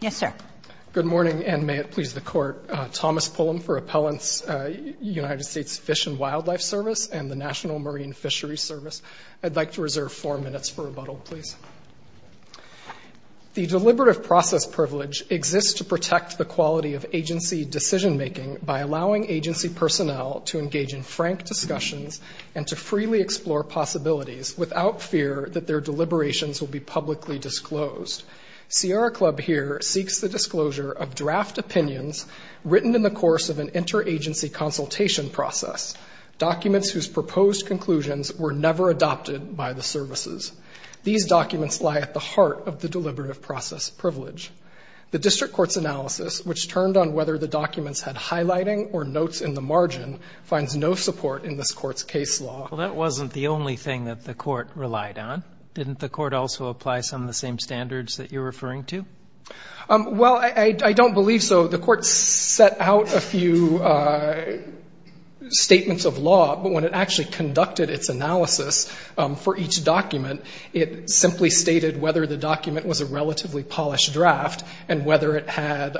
Yes, sir. Good morning, and may it please the court. Thomas Pullum for Appellant's United States Fish and Wildlife Service and the National Marine Fishery Service. I'd like to reserve four minutes for rebuttal, please. The deliberative process privilege exists to protect the quality of agency decision-making by allowing agency personnel to engage in frank discussions and to freely explore possibilities without fear that their deliberations will be publicly disclosed. Sierra Club here seeks the disclosure of draft opinions written in the course of an interagency consultation process, documents whose proposed conclusions were never adopted by the services. These documents lie at the heart of the deliberative process privilege. The district court's analysis, which turned on whether the documents had highlighting or notes in the margin, finds no support in this court's case law. Well, that wasn't the only thing that the court relied on. Didn't the court also apply some of the same standards that you're referring to? Well, I don't believe so. The court set out a few statements of law, but when it actually conducted its analysis for each document, it simply stated whether the document was a relatively polished draft and whether it had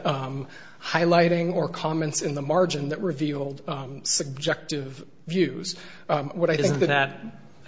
highlighting or comments in the margin that revealed subjective views. What I think that- Isn't that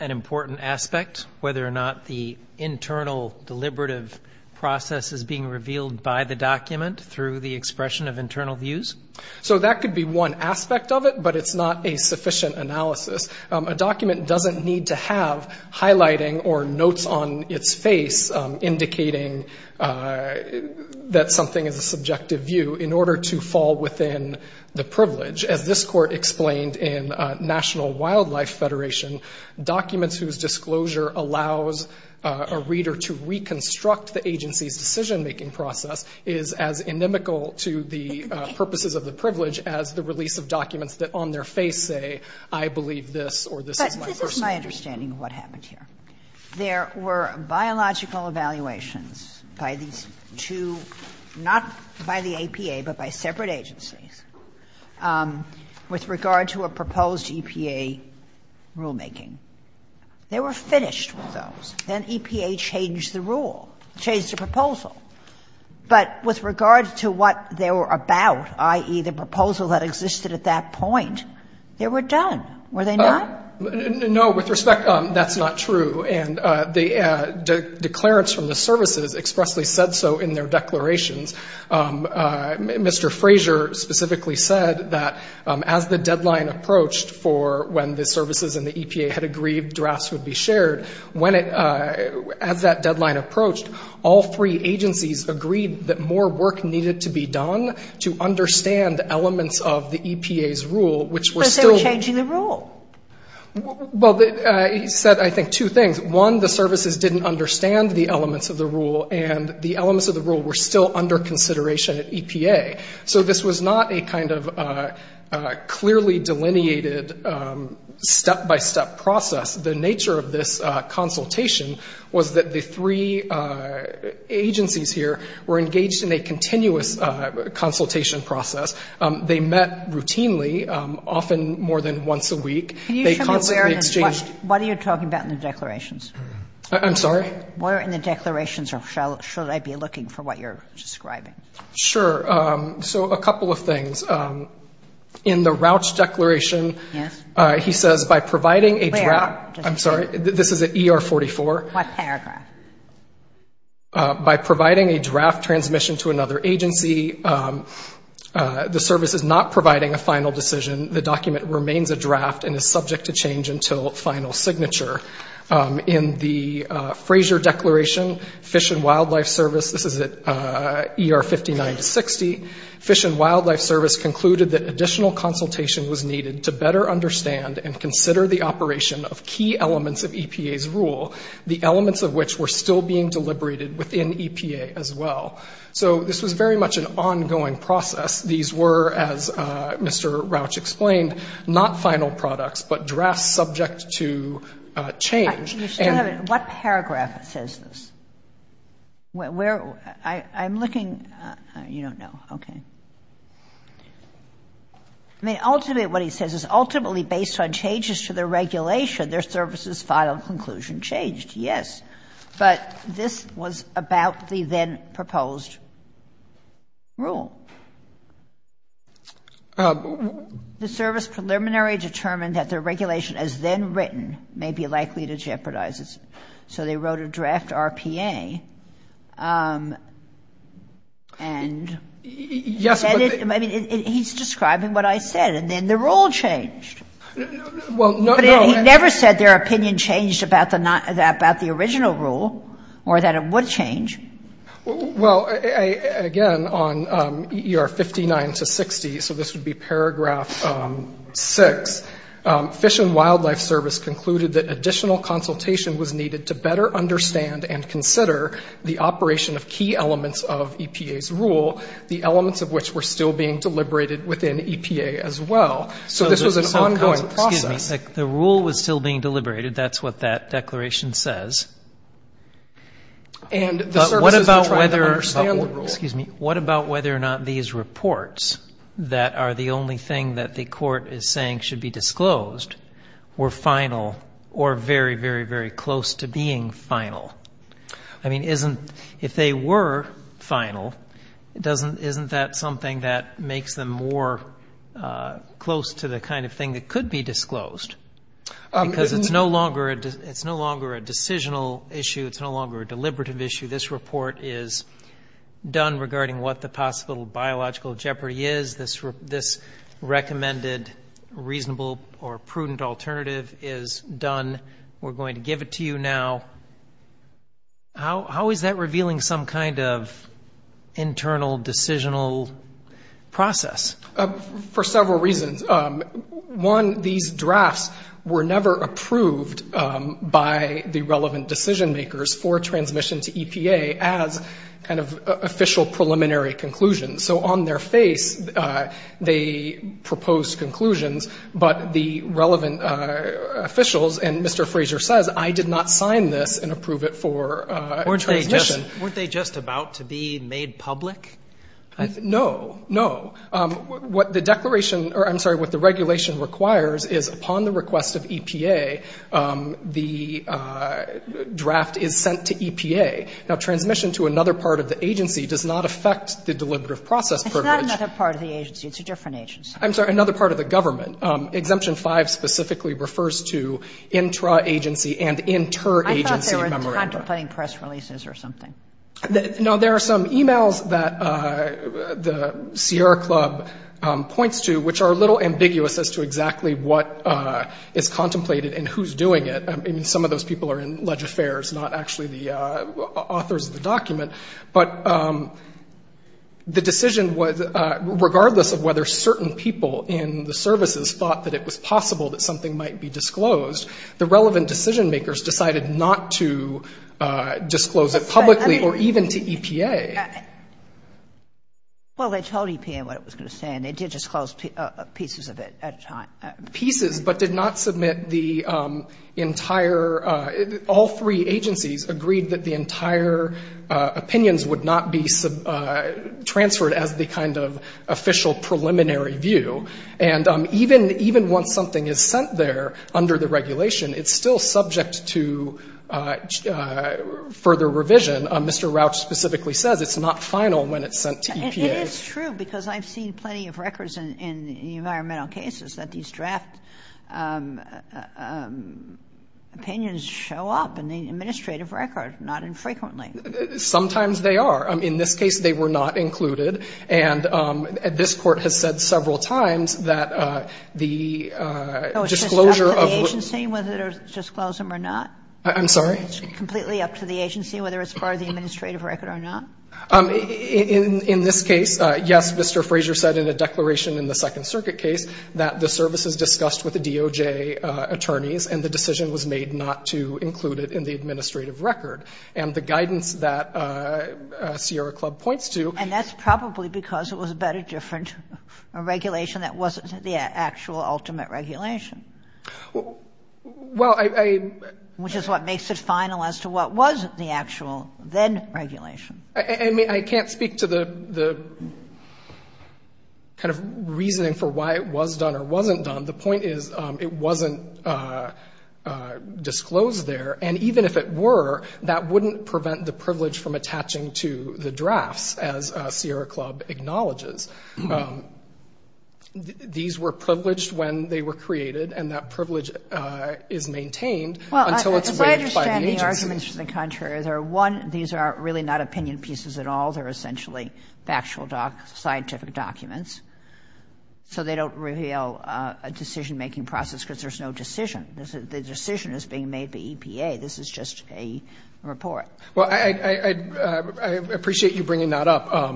an important aspect, whether or not the internal deliberative process is being revealed by the document through the expression of internal views? So that could be one aspect of it, but it's not a sufficient analysis. A document doesn't need to have highlighting or notes on its face, indicating that something is a subjective view in order to fall within the privilege. As this court explained in National Wildlife Federation, documents whose disclosure allows a reader to reconstruct the agency's decision-making process is as inimical to the purposes of the privilege as the release of documents that on their face say, I believe this or this is my personal view. But this is my understanding of what happened here. There were biological evaluations by these two, not by the APA, but by separate agencies with regard to a proposed EPA rulemaking. They were finished with those. Then EPA changed the rule, changed the proposal. But with regard to what they were about, i.e. the proposal that existed at that point, they were done. Were they not? No, with respect, that's not true. And the declarants from the services expressly said so in their declarations. Mr. Fraser specifically said that as the deadline approached for when the services and the EPA had agreed drafts would be shared, as that deadline approached, all three agencies agreed that more work needed to be done to understand elements of the EPA's rule, which was still- But they were changing the rule. Well, he said, I think, two things. One, the services didn't understand the elements of the rule and the elements of the rule were still under consideration at EPA. So this was not a kind of clearly delineated step-by-step process. The nature of this consultation was that the three agencies here were engaged in a continuous consultation process. They met routinely, often more than once a week. They constantly exchanged- What are you talking about in the declarations? I'm sorry? Where in the declarations should I be looking for what you're describing? Sure. So a couple of things. In the Rouch Declaration, he says, by providing a draft- I'm sorry, this is at ER44. What paragraph? By providing a draft transmission to another agency, the service is not providing a final decision. The document remains a draft and is subject to change until final signature. In the Fraser Declaration, Fish and Wildlife Service, this is at ER59-60, Fish and Wildlife Service concluded that additional consultation was needed to better understand and consider the operation of key elements of EPA's rule, the elements of which were still being deliberated within EPA as well. So this was very much an ongoing process. These were, as Mr. Rouch explained, not final products, but drafts subject to change. You still have it. What paragraph says this? Where, I'm looking, you don't know, okay. I mean, ultimately what he says is, ultimately based on changes to the regulation, their service's final conclusion changed, yes. But this was about the then-proposed rule. The service preliminary determined that their regulation as then written may be likely to jeopardize it. So they wrote a draft RPA. And he's describing what I said, and then the rule changed. He never said their opinion changed about the original rule or that it would change. Well, again, on ER59-60, so this would be paragraph six, Fish and Wildlife Service concluded that additional consultation was needed to better understand and consider the operation of key elements of EPA's rule, the elements of which were still being deliberated within EPA as well. So this was an ongoing process. The rule was still being deliberated. That's what that declaration says. And the services were trying to understand the rule. What about whether or not these reports that are the only thing that the court is saying should be disclosed were final or very, very, very close to being final? I mean, if they were final, isn't that something that makes them more close to the kind of thing that could be disclosed? Because it's no longer a decisional issue. It's no longer a deliberative issue. This report is done regarding what the possible biological jeopardy is. This recommended reasonable or prudent alternative is done. We're going to give it to you now. How is that revealing some kind of internal decisional process? For several reasons. One, these drafts were never approved by the relevant decision makers for transmission to EPA as kind of official preliminary conclusions. So on their face, they proposed conclusions, but the relevant officials, and Mr. Fraser says, I did not sign this and approve it for transmission. Weren't they just about to be made public? No, no. What the declaration, or I'm sorry, what the regulation requires is upon the request of EPA, the draft is sent to EPA. Now, transmission to another part of the agency does not affect the deliberative process privilege. It's not another part of the agency. It's a different agency. I'm sorry, another part of the government. Exemption five specifically refers to intra-agency and inter-agency memory. I thought they were contemplating press releases or something. No, there are some emails that the Sierra Club points to, which are a little ambiguous as to exactly what is contemplated and who's doing it. Some of those people are in Leg Affairs, not actually the authors of the document. But the decision was, regardless of whether certain people in the services thought that it was possible that something might be disclosed, the relevant decision makers decided not to disclose it publicly or even to EPA. Well, they told EPA what it was going to say, and they did disclose pieces of it at a time. Pieces, but did not submit the entire, all three agencies agreed that the entire opinions would not be transferred as the kind of official preliminary view. And even once something is sent there under the regulation, it's still subject to further revision. Mr. Rauch specifically says it's not final when it's sent to EPA. It is true, because I've seen plenty of records in environmental cases that these draft opinions show up in the administrative record, not infrequently. Sometimes they are. In this case, they were not included. And this court has said several times that the disclosure of the agency, whether to disclose them or not. I'm sorry? Completely up to the agency, whether it's part of the administrative record or not. In this case, yes, Mr. Frazier said in a declaration in the Second Circuit case that the services discussed with the DOJ attorneys and the decision was made not to include it in the administrative record. And the guidance that Sierra Club points to. And that's probably because it was a better, different regulation that wasn't the actual ultimate regulation. Well, I. Which is what makes it final as to what was the actual then regulation. I mean, I can't speak to the kind of reasoning for why it was done or wasn't done. The point is, it wasn't disclosed there. And even if it were, that wouldn't prevent the privilege from attaching to the drafts as Sierra Club acknowledges. These were privileged when they were created and that privilege is maintained until it's waived by the agency. Well, as I understand the arguments to the contrary, there are one, these are really not opinion pieces at all. They're essentially factual scientific documents. So they don't reveal a decision making process because there's no decision. The decision is being made by EPA. This is just a report. Well, I appreciate you bringing that up.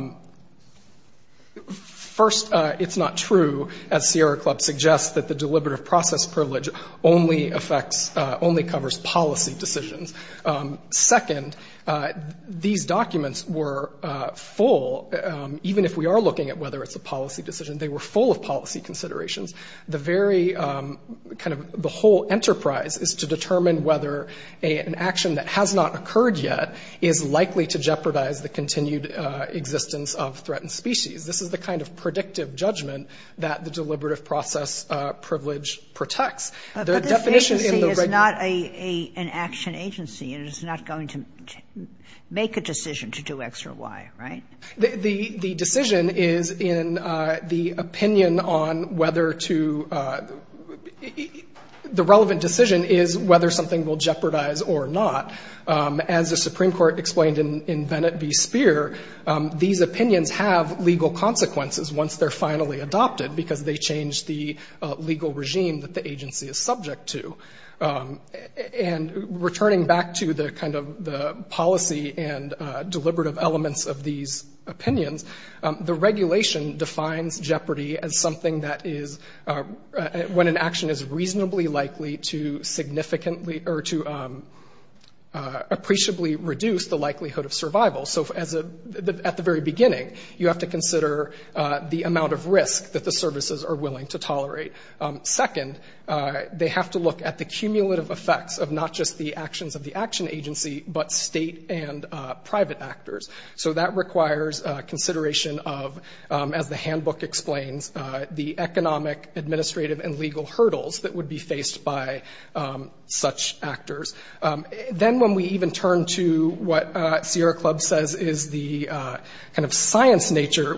First, it's not true as Sierra Club suggests that the deliberative process privilege only affects, only covers policy decisions. Second, these documents were full, even if we are looking at whether it's a policy decision, they were full of policy considerations. The very kind of the whole enterprise is to determine whether an action that has not occurred yet is likely to jeopardize the continued existence of threatened species. This is the kind of predictive judgment that the deliberative process privilege protects. The definition in the- But this agency is not an action agency and it's not going to make a decision to do X or Y, right? The decision is in the opinion on whether to, the relevant decision is whether something will jeopardize or not. As the Supreme Court explained in Bennett v. Speer, these opinions have legal consequences once they're finally adopted because they changed the legal regime that the agency is subject to. And returning back to the kind of the policy and deliberative elements of these opinions, the regulation defines jeopardy as something that is, when an action is reasonably likely to significantly or to appreciably reduce the likelihood of survival. So at the very beginning, you have to consider the amount of risk that the services are willing to tolerate. Second, they have to look at the cumulative effects of not just the actions of the action agency, but state and private actors. So that requires consideration of, as the handbook explains, the economic, administrative, and legal hurdles that would be faced by such actors. Then when we even turn to what Sierra Club says is the kind of science nature,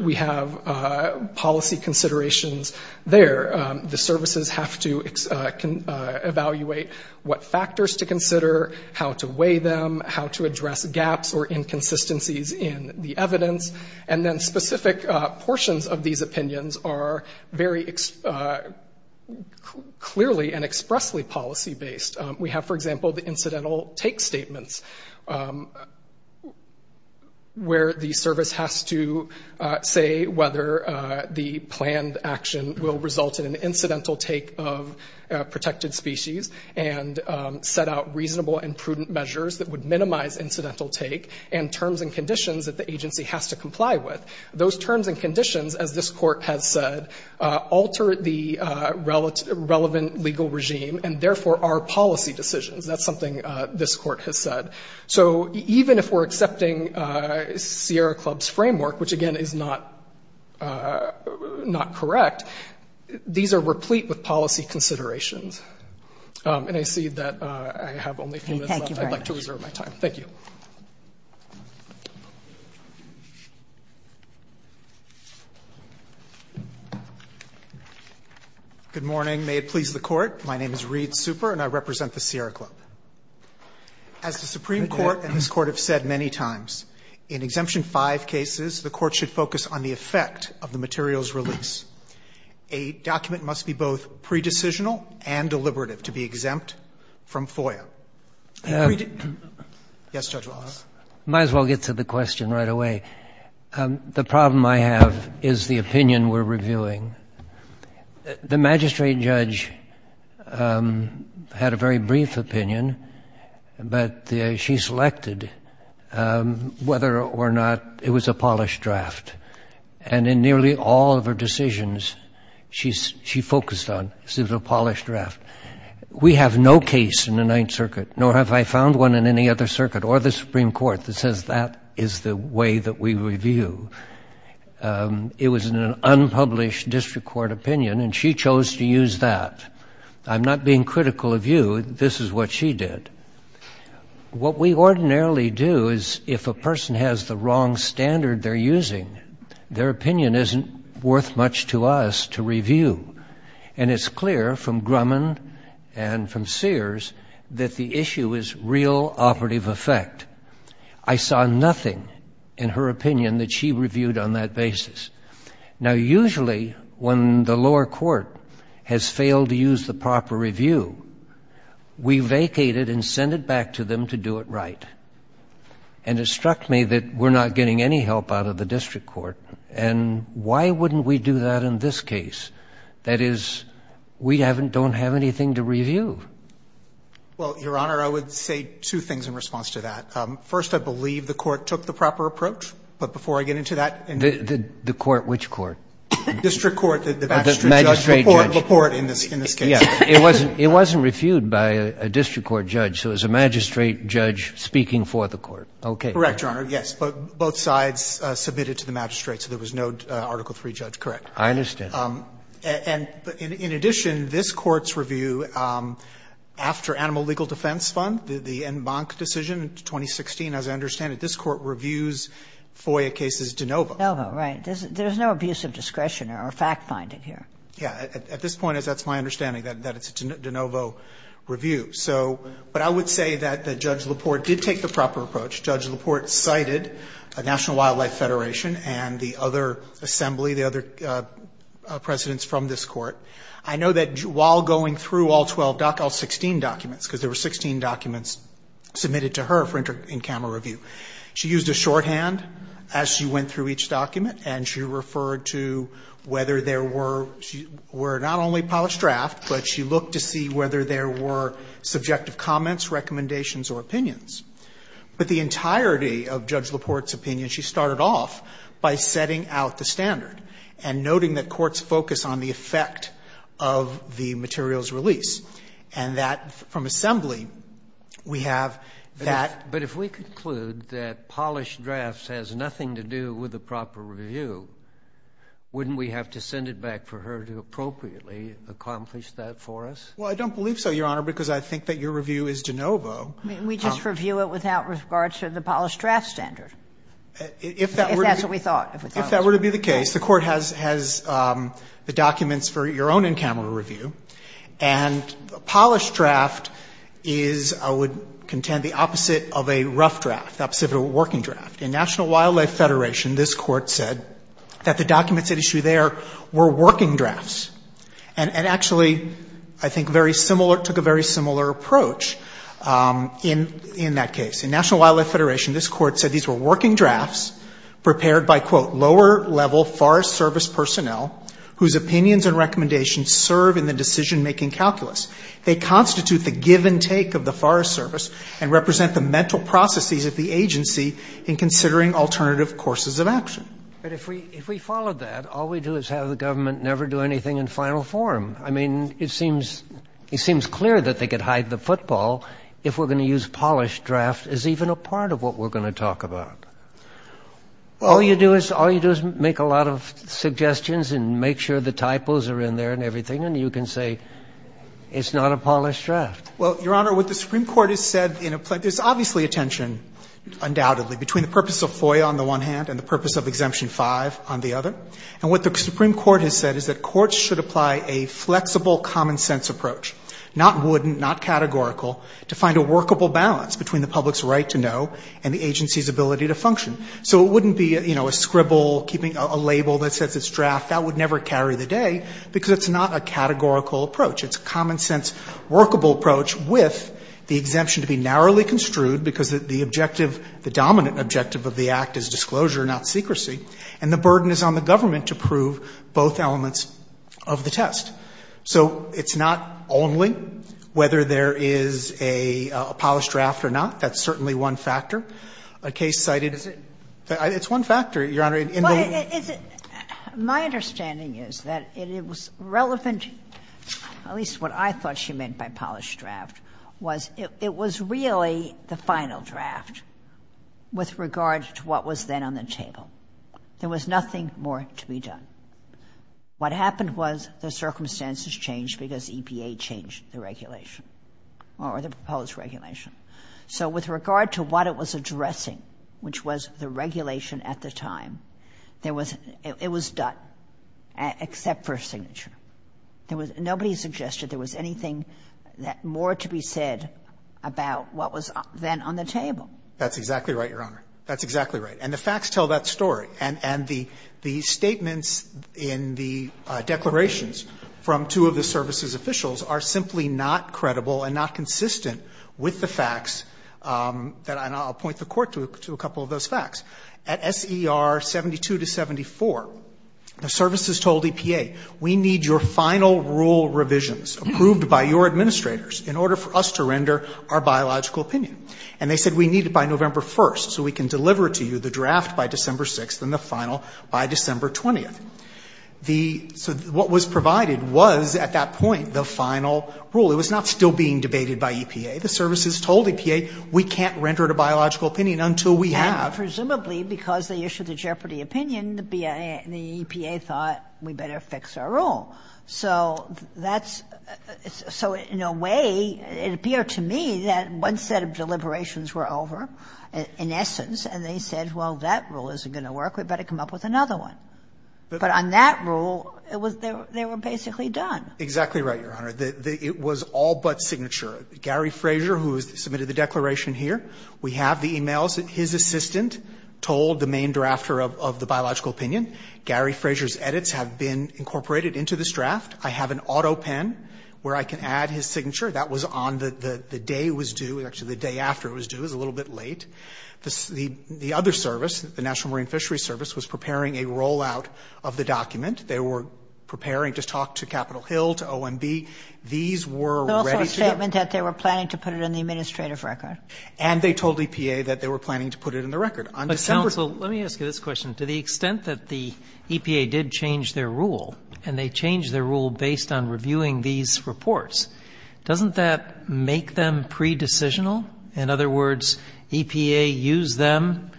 The services have to evaluate what factors to consider, how to weigh them, how to address gaps or inconsistencies in the evidence. And then specific portions of these opinions are very clearly and expressly policy-based. We have, for example, the incidental take statements, where the service has to say whether the planned action will result in an incidental take of protected species and set out reasonable and prudent measures that would minimize incidental take and terms and conditions that the agency has to comply with. Those terms and conditions, as this court has said, alter the relevant legal regime and therefore our policy decisions. That's something this court has said. So even if we're accepting Sierra Club's framework, which again is not correct, these are replete with policy considerations. And I see that I have only a few minutes left. I'd like to reserve my time. Thank you. Good morning. May it please the court. My name is Reed Super and I represent the Sierra Club. As the Supreme Court and this court have said many times, in exemption five cases, the court should focus on the effect of the materials release. A document must be both pre-decisional and deliberative to be exempt from FOIA. Yes, Judge Wallace. Might as well get to the question right away. The problem I have is the opinion we're reviewing. The magistrate judge had a very brief opinion, but she selected whether or not it was a polished draft. And in nearly all of her decisions, she focused on, it was a polished draft. We have no case in the Ninth Circuit, nor have I found one in any other circuit or the Supreme Court that says that is the way that we review. It was an unpublished district court opinion and she chose to use that. I'm not being critical of you. This is what she did. What we ordinarily do is if a person has the wrong standard they're using, their opinion isn't worth much to us to review. And it's clear from Grumman and from Sears that the issue is real operative effect. I saw nothing in her opinion that she reviewed on that basis. Now usually when the lower court has failed to use the proper review, we vacate it and send it back to them to do it right. And it struck me that we're not getting any help out of the district court. And why wouldn't we do that in this case? That is, we don't have anything to review. Well, Your Honor, I would say two things in response to that. First, I believe the court took the proper approach. But before I get into that. The court, which court? District court, the magistrate judge. The magistrate judge. The court in this case. It wasn't reviewed by a district court judge. So it was a magistrate judge speaking for the court. Okay. Correct, Your Honor. Both sides submitted to the magistrate. So there was no Article III judge. Correct. I understand. And in addition, this court's review after Animal Legal Defense Fund, the en banc decision in 2016, as I understand it, this court reviews FOIA cases de novo. De novo, right. There's no abuse of discretion or fact finding here. Yeah, at this point, that's my understanding that it's a de novo review. So, but I would say that Judge LaPorte did take the proper approach. Judge LaPorte cited National Wildlife Federation and the other assembly, the other presidents from this court. I know that while going through all 12, all 16 documents, because there were 16 documents submitted to her for in-camera review. She used a shorthand as she went through each document and she referred to whether there were, she were not only polished draft, but she looked to see whether there were subjective comments, recommendations, or opinions. But the entirety of Judge LaPorte's opinion, she started off by setting out the standard and noting that courts focus on the effect of the material's release. And that from assembly, we have that. But if we conclude that polished drafts has nothing to do with the proper review, wouldn't we have to send it back for her to appropriately accomplish that for us? Well, I don't believe so, Your Honor, because I think that your review is de novo. We just review it without regard to the polished draft standard. If that were to be the case, the court has the documents for your own in-camera review. And a polished draft is, I would contend, the opposite of a rough draft, the opposite of a working draft. In National Wildlife Federation, this court said that the documents at issue there were working drafts. And actually, I think very similar, the court took a very similar approach in that case. In National Wildlife Federation, this court said these were working drafts prepared by, quote, lower-level Forest Service personnel whose opinions and recommendations serve in the decision-making calculus. They constitute the give and take of the Forest Service and represent the mental processes of the agency in considering alternative courses of action. But if we followed that, all we do is have the government never do anything in final form. I mean, it seems clear that they could hide the football if we're going to use polished draft as even a part of what we're going to talk about. All you do is make a lot of suggestions and make sure the typos are in there and everything, and you can say it's not a polished draft. Well, Your Honor, what the Supreme Court has said, there's obviously a tension, undoubtedly, between the purpose of FOIA on the one hand and the purpose of Exemption 5 on the other. And what the Supreme Court has said is that courts should apply a flexible common-sense approach, not wooden, not categorical, to find a workable balance between the public's right to know and the agency's ability to function. So it wouldn't be a scribble, keeping a label that says it's draft. That would never carry the day because it's not a categorical approach. It's a common-sense, workable approach with the exemption to be narrowly construed because the objective, the dominant objective of the act is disclosure, not secrecy, and the burden is on the government to prove both elements of the test. So it's not only whether there is a polished draft or not. That's certainly one factor. A case cited, it's one factor, Your Honor. In the- My understanding is that it was relevant, at least what I thought she meant by polished draft, was it was really the final draft with regard to what was then on the table. There was nothing more to be done. What happened was the circumstances changed because EPA changed the regulation or the proposed regulation. So with regard to what it was addressing, which was the regulation at the time, there was, it was done, except for signature. There was, nobody suggested there was anything more to be said about what was then on the table. That's exactly right, Your Honor. That's exactly right. And the facts tell that story. And the statements in the declarations from two of the services officials are simply not credible and not consistent with the facts that, and I'll point the court to a couple of those facts. At SER 72 to 74, the services told EPA, we need your final rule revisions approved by your administrators in order for us to render our biological opinion. And they said, we need it by November 1st so we can deliver to you the draft by December 6th and the final by December 20th. So what was provided was, at that point, the final rule. It was not still being debated by EPA. The services told EPA, we can't render to biological opinion until we have. Presumably because they issued a jeopardy opinion, the EPA thought we better fix our rule. So that's, so in a way, it appeared to me that one set of deliberations were over. In essence, and they said, well, that rule isn't going to work. We better come up with another one. But on that rule, it was, they were basically done. Exactly right, Your Honor. It was all but signature. Gary Frazier, who submitted the declaration here, we have the emails that his assistant told the main drafter of the biological opinion. Gary Frazier's edits have been incorporated into this draft. I have an auto pen where I can add his signature. That was on the day it was due. Actually, the day after it was due is a little bit late. The other service, the National Marine Fishery Service, was preparing a rollout of the document. They were preparing to talk to Capitol Hill, to OMB. These were ready to go. There was also a statement that they were planning to put it in the administrative record. And they told EPA that they were planning to put it in the record. On December. Let me ask you this question. To the extent that the EPA did change their rule, and they changed their rule based on reviewing these reports, doesn't that make them pre-decisional? In other words, EPA used them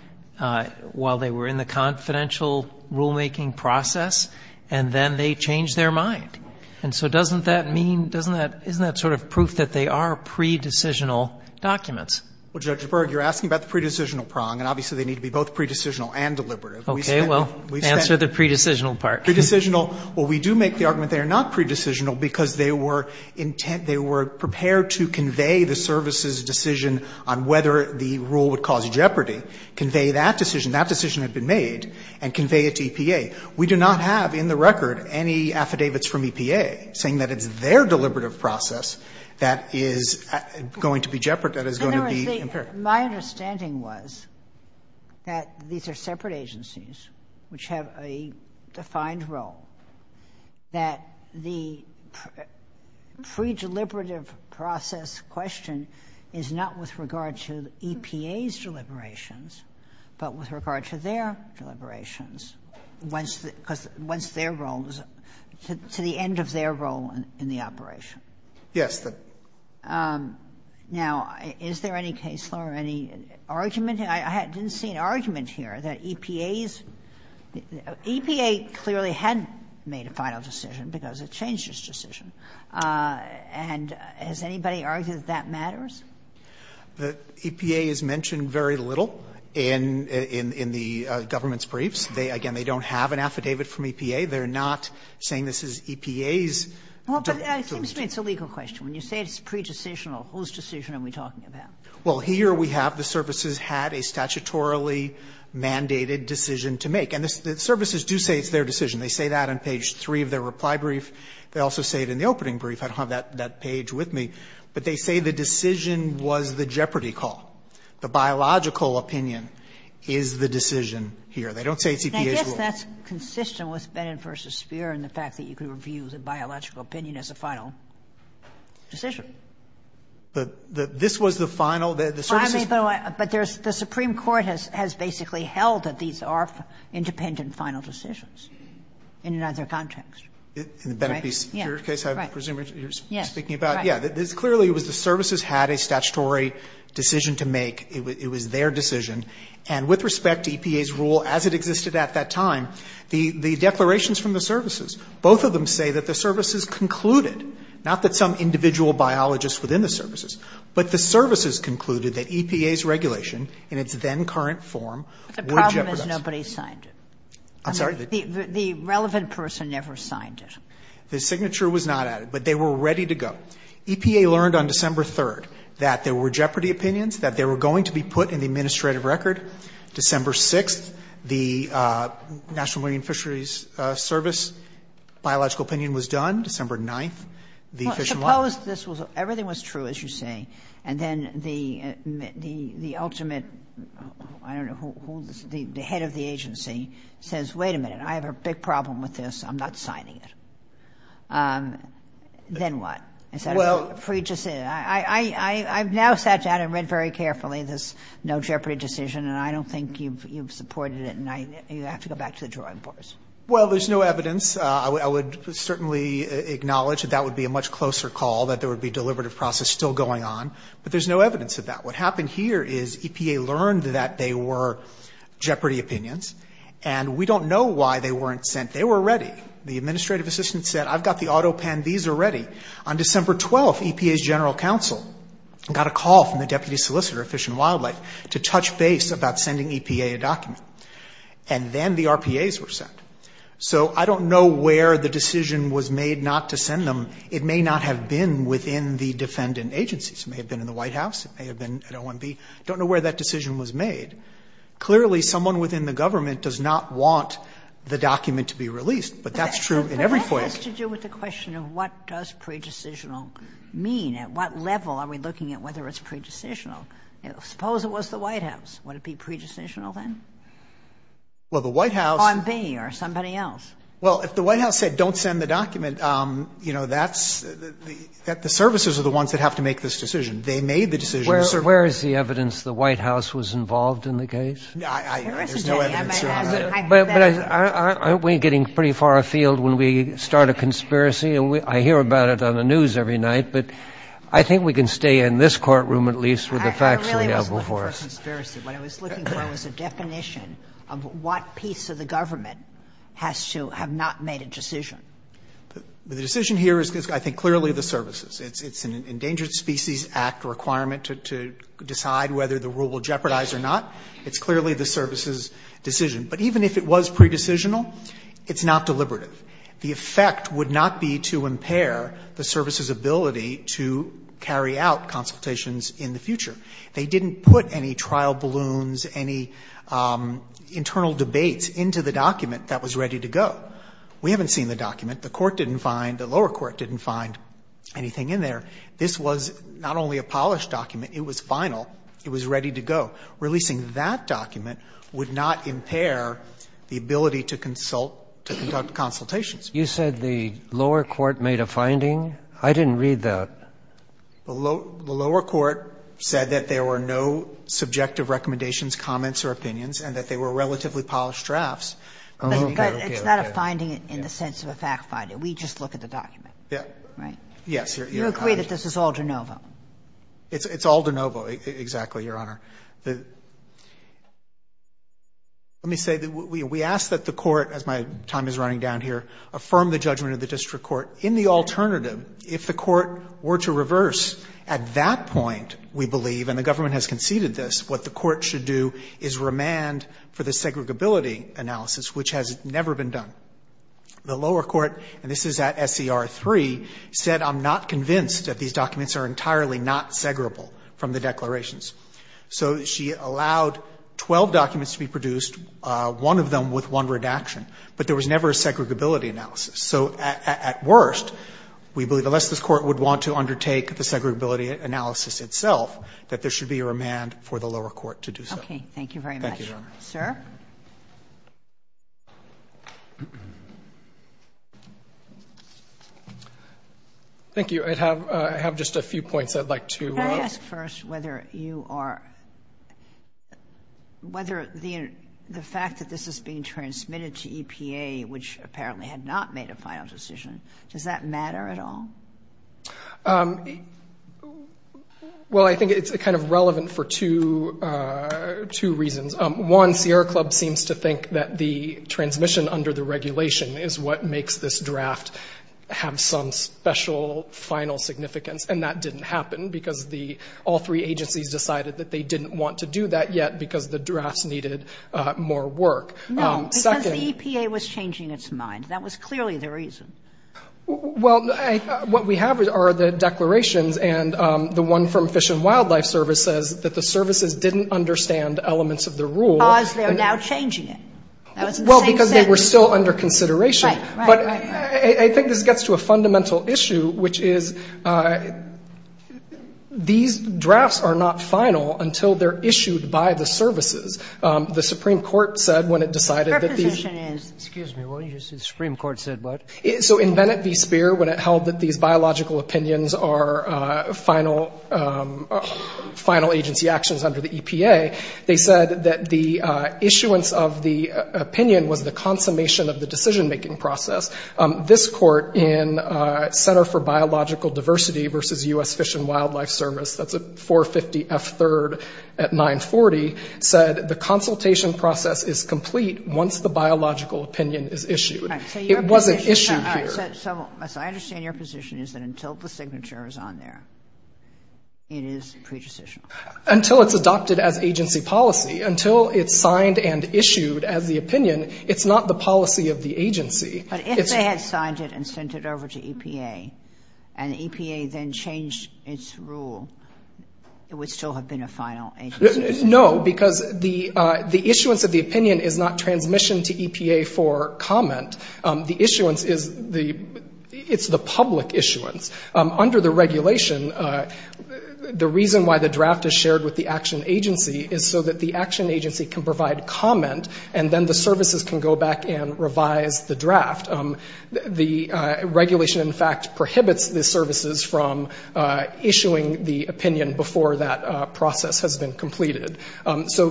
while they were in the confidential rulemaking process, and then they changed their mind. And so doesn't that mean, doesn't that, isn't that sort of proof that they are pre-decisional documents? Well, Judge Berg, you're asking about the pre-decisional prong, and obviously they need to be both pre-decisional and deliberative. Okay, well, answer the pre-decisional part. Pre-decisional, well, we do make the argument that they're not pre-decisional because they were intent, they were prepared to convey the service's decision on whether the rule would cause jeopardy, convey that decision, that decision had been made, and convey it to EPA. We do not have in the record any affidavits from EPA saying that it's their deliberative process that is going to be jeopardy, that is going to be imperative. My understanding was that these are separate agencies which have a defined role, that the pre-deliberative process question is not with regard to EPA's deliberations, but with regard to their deliberations, once their role, to the end of their role in the operation. Yes. Now, is there any case law or any argument? I didn't see an argument here that EPA's, EPA clearly had made a final decision because it changed its decision. And has anybody argued that that matters? EPA is mentioned very little in the government's briefs. Again, they don't have an affidavit from EPA. They're not saying this is EPA's. Well, but it seems to me it's a legal question. When you say it's pre-decisional, whose decision are we talking about? Well, here we have the services had a statutorily mandated decision to make. And the services do say it's their decision. They say that on page three of their reply brief. They also say it in the opening brief. I don't have that page with me, but they say the decision was the jeopardy call. The biological opinion is the decision here. They don't say it's EPA's role. And I guess that's consistent with Bennett v. Speer and the fact that you can review the biological opinion as a final decision. But this was the final, the services. But the Supreme Court has basically held that these are independent final decisions in either context. In the Bennett v. Speer case, I presume you're speaking about. Yes. Clearly, it was the services had a statutory decision to make. It was their decision. And with respect to EPA's rule as it existed at that time, the declarations from the services, both of them say that the services concluded, not that some individual biologists within the services, but the services concluded that EPA's regulation in its then current form would jeopardize. The problem is nobody signed it. I'm sorry? The relevant person never signed it. The signature was not added, but they were ready to go. EPA learned on December 3rd that there were jeopardy opinions, that they were going to be put in the administrative record. December 6th, the National Marine Fisheries Service biological opinion was done. December 9th, the Fish and Wildlife. Everything was true, as you say. And then the ultimate, I don't know who, the head of the agency says, wait a minute, I have a big problem with this. I'm not signing it. Then what? Is that a free decision? I've now sat down and read very carefully this no jeopardy decision. And I don't think you've supported it. And you have to go back to the drawing boards. Well, there's no evidence. I would certainly acknowledge that that would be a much closer call, that there would be a deliberative process still going on. But there's no evidence of that. What happened here is EPA learned that they were jeopardy opinions. And we don't know why they weren't sent. They were ready. The administrative assistant said, I've got the auto pen, these are ready. On December 12th, EPA's general counsel got a call from the deputy solicitor of Fish and Wildlife to touch base about sending EPA a document. And then the RPAs were sent. So I don't know where the decision was made not to send them. It may not have been within the defendant agencies. It may have been in the White House. It may have been at OMB. Don't know where that decision was made. Clearly, someone within the government does not want the document to be released. But that's true in every way. But that has to do with the question of what does pre-decisional mean? At what level are we looking at whether it's pre-decisional? Suppose it was the White House. Would it be pre-decisional then? Well, the White House. OMB or somebody else. Well, if the White House said don't send the document, you know, that's, the services are the ones that have to make this decision. They made the decision to serve. Where is the evidence the White House was involved in the case? I, there's no evidence there. But aren't we getting pretty far afield when we start a conspiracy? And I hear about it on the news every night, but I think we can stay in this courtroom at least with the facts available for us. When I was looking for a definition of what piece of the government has to have not made a decision. The decision here is, I think, clearly the services. It's an Endangered Species Act requirement to decide whether the rule will jeopardize or not. It's clearly the services' decision. But even if it was pre-decisional, it's not deliberative. The effect would not be to impair the services' ability to carry out consultations in the future. They didn't put any trial balloons, any internal debates into the document that was ready to go. We haven't seen the document. The court didn't find, the lower court didn't find anything in there. This was not only a polished document, it was final. It was ready to go. Releasing that document would not impair the ability to consult, to conduct consultations. You said the lower court made a finding? I didn't read that. The lower court said that there were no subjective recommendations, comments or opinions, and that they were relatively polished drafts. But it's not a finding in the sense of a fact finding. We just look at the document. Right? Yes. You agree that this is all de novo? It's all de novo, exactly, Your Honor. Let me say, we ask that the court, as my time is running down here, affirm the judgment of the district court, in the alternative, if the court were to reverse at that point, we believe, and the government has conceded this, what the court should do is remand for the segregability analysis, which has never been done. The lower court, and this is at SCR 3, said I'm not convinced that these documents are entirely not segregable from the declarations. So she allowed 12 documents to be produced, one of them with one redaction, but there was never a segregability analysis. So at worst, we believe, unless this court would want to undertake the segregability analysis itself, that there should be a remand for the lower court to do so. Okay. Thank you very much. Thank you, Your Honor. Sir? Thank you. I have just a few points I'd like to. Can I ask first whether you are, whether the fact that this is being transmitted to EPA, which apparently had not made a final decision, does that matter at all? Well, I think it's kind of relevant for two reasons. One, Sierra Club seems to think that the transmission under the regulation is what makes this draft have some special final significance, and that didn't happen because all three agencies decided that they didn't want to do that yet because the drafts needed more work. No, because the EPA was changing its mind. That was clearly the reason. Well, what we have are the declarations, and the one from Fish and Wildlife Service says that the services didn't understand elements of the rule. Because they're now changing it. That was the same sentence. Well, because they were still under consideration. Right, right, right. But I think this gets to a fundamental issue, which is these drafts are not final until they're issued by the services. The Supreme Court said when it decided that these- Your position is- Excuse me. What did you say the Supreme Court said, bud? So in Bennett v. Speer, when it held that these biological opinions are final agency actions under the EPA, they said that the issuance of the opinion was the consummation of the decision-making process. This court in Center for Biological Diversity versus US Fish and Wildlife Service, that's at 450 F3rd at 940, said the consultation process is complete once the biological opinion is issued. Right, so your position- It wasn't issued here. All right, so I understand your position is that until the signature is on there, it is pre-decisional. Until it's adopted as agency policy. Until it's signed and issued as the opinion, it's not the policy of the agency. But if they had signed it and sent it over to EPA, and EPA then changed its rule, it would still have been a final agency. No, because the issuance of the opinion is not transmission to EPA for comment. The issuance is the public issuance. Under the regulation, the reason why the draft is shared with the action agency is so that the action agency can provide comment, and then the services can go back and revise the draft. The regulation, in fact, prohibits the services from issuing the opinion before that process has been completed. So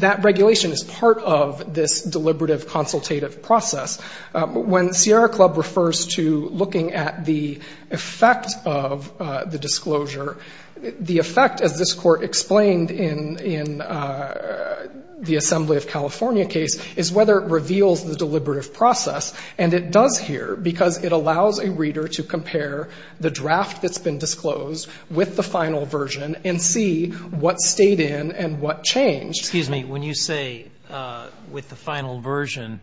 that regulation is part of this deliberative consultative process. When Sierra Club refers to looking at the effect of the disclosure, the effect, as this court explained in the Assembly of California case, is whether it reveals the deliberative process. And it does here, because it allows a reader to compare the draft that's been disclosed with the final version and see what stayed in and what changed. Excuse me, when you say with the final version,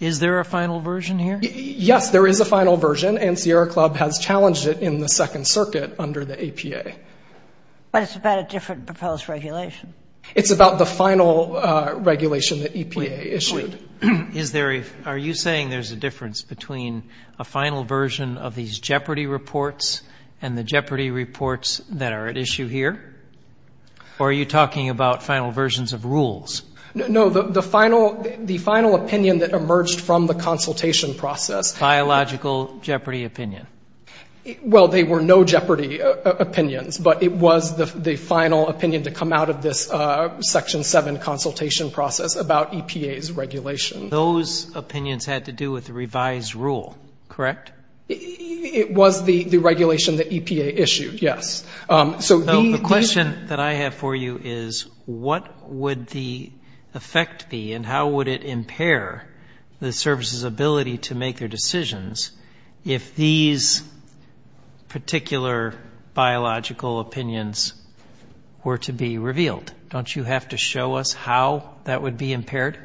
is there a final version here? Yes, there is a final version, and Sierra Club has challenged it in the Second Circuit under the APA. But it's about a different proposed regulation. It's about the final regulation that EPA issued. Are you saying there's a difference between a final version of these Jeopardy! reports and the Jeopardy! reports that are at issue here? Or are you talking about final versions of rules? No, the final opinion that emerged from the consultation process. Biological Jeopardy! opinion. Well, they were no Jeopardy! opinions, but it was the final opinion to come out of this Section 7 consultation process about EPA's regulation. Those opinions had to do with the revised rule, correct? It was the regulation that EPA issued, yes. So the question that I have for you is, what would the effect be and how would it impair the services' ability to make their decisions if these particular biological opinions were to be revealed? Don't you have to show us how that would be impaired?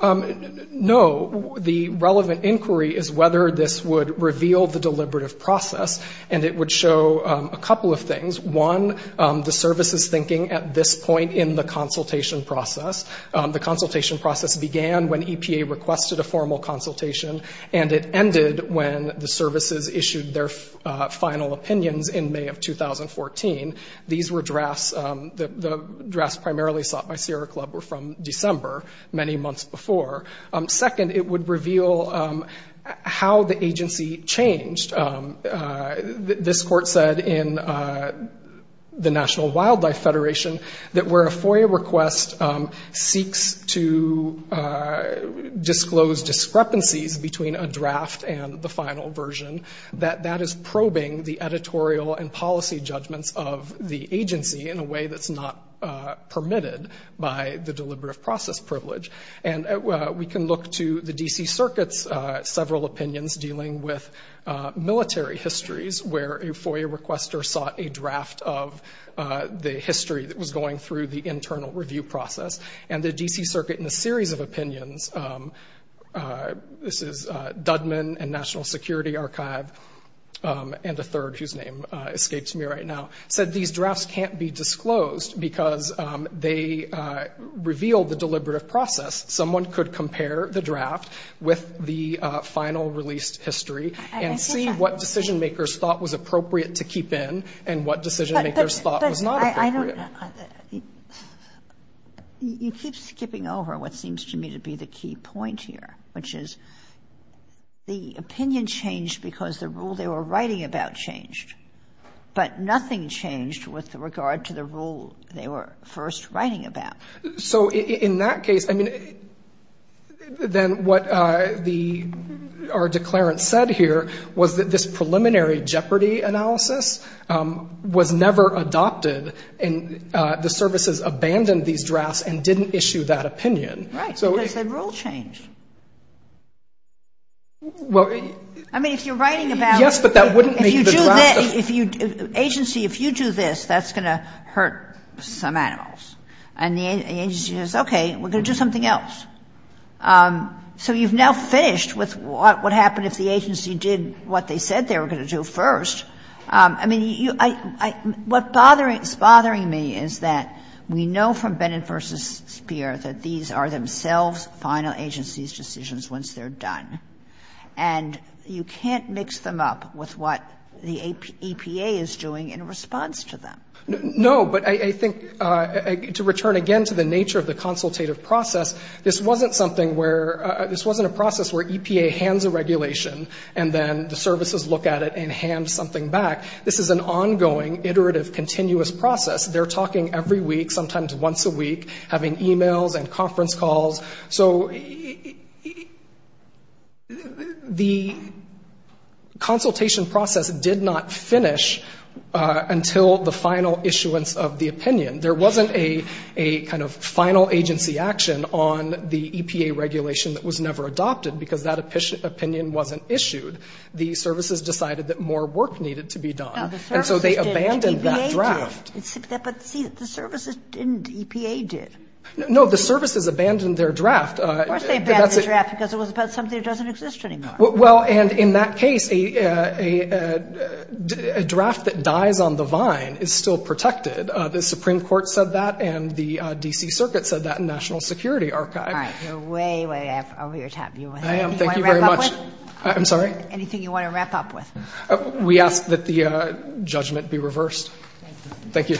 No, the relevant inquiry is whether this would reveal the deliberative process, and it would show a couple of things. One, the services' thinking at this point in the consultation process. The consultation process began when EPA requested a formal consultation, and it ended when the services issued their final opinions in May of 2014. These were drafts, the drafts primarily sought by Sierra Club were from December, many months before. Second, it would reveal how the agency changed. This court said in the National Wildlife Federation that where a FOIA request seeks to disclose discrepancies between a draft and the final version, that that is probing the editorial and policy judgments of the agency in a way that's not permitted by the deliberative process privilege. And we can look to the D.C. Circuit's several opinions dealing with military histories, where a FOIA requester sought a draft of the history that was going through the internal review process. And the D.C. Circuit in a series of opinions, this is Dudman and National Security Archive, and a third, whose name escapes me right now, said these drafts can't be disclosed because they reveal the deliberative process. Someone could compare the draft with the final released history and see what decision-makers thought was appropriate to keep in and what decision-makers thought was not appropriate. You keep skipping over what seems to me to be the key point here, which is the opinion changed because the rule they were writing about changed, but nothing changed with regard to the rule they were first writing about. So, in that case, I mean, then what our declarant said here was that this preliminary jeopardy analysis was never adopted and the services abandoned these drafts and didn't issue that opinion. Right, because they rule-changed. I mean, if you're writing about... Yes, but that wouldn't make the draft... Agency, if you do this, that's going to hurt some animals. And the agency says, okay, we're going to do something else. So you've now finished with what would happen if the agency did what they said they were going to do first. I mean, what's bothering me is that we know from Bennett v. Speer that these are themselves final agency's decisions once they're done. And you can't mix them up with what the EPA is doing in response to them. No, but I think, to return again to the nature of the consultative process, this wasn't something where, this wasn't a process where EPA hands a regulation and then the services look at it and hand something back. This is an ongoing, iterative, continuous process. They're talking every week, sometimes once a week, having emails and conference calls. So the consultation process did not finish until the final issuance of the opinion. There wasn't a kind of final agency action on the EPA regulation that was never adopted because that opinion wasn't issued. The services decided that more work needed to be done. And so they abandoned that draft. But see, the services didn't, EPA did. No, the services abandoned their draft. Of course they abandoned their draft because it was about something that doesn't exist anymore. Well, and in that case, a draft that dies on the vine is still protected. The Supreme Court said that and the D.C. Circuit said that and National Security Archive. All right, you're way, way over your time. Anything you want to wrap up with? I'm sorry? Anything you want to wrap up with? We ask that the judgment be reversed. Thank you.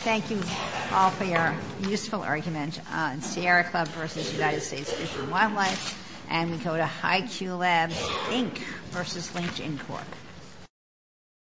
Thank you all for your useful argument on Sierra Club versus United States Fish and Wildlife. And we go to High Q Lab Inc. versus LinkedIn Corp.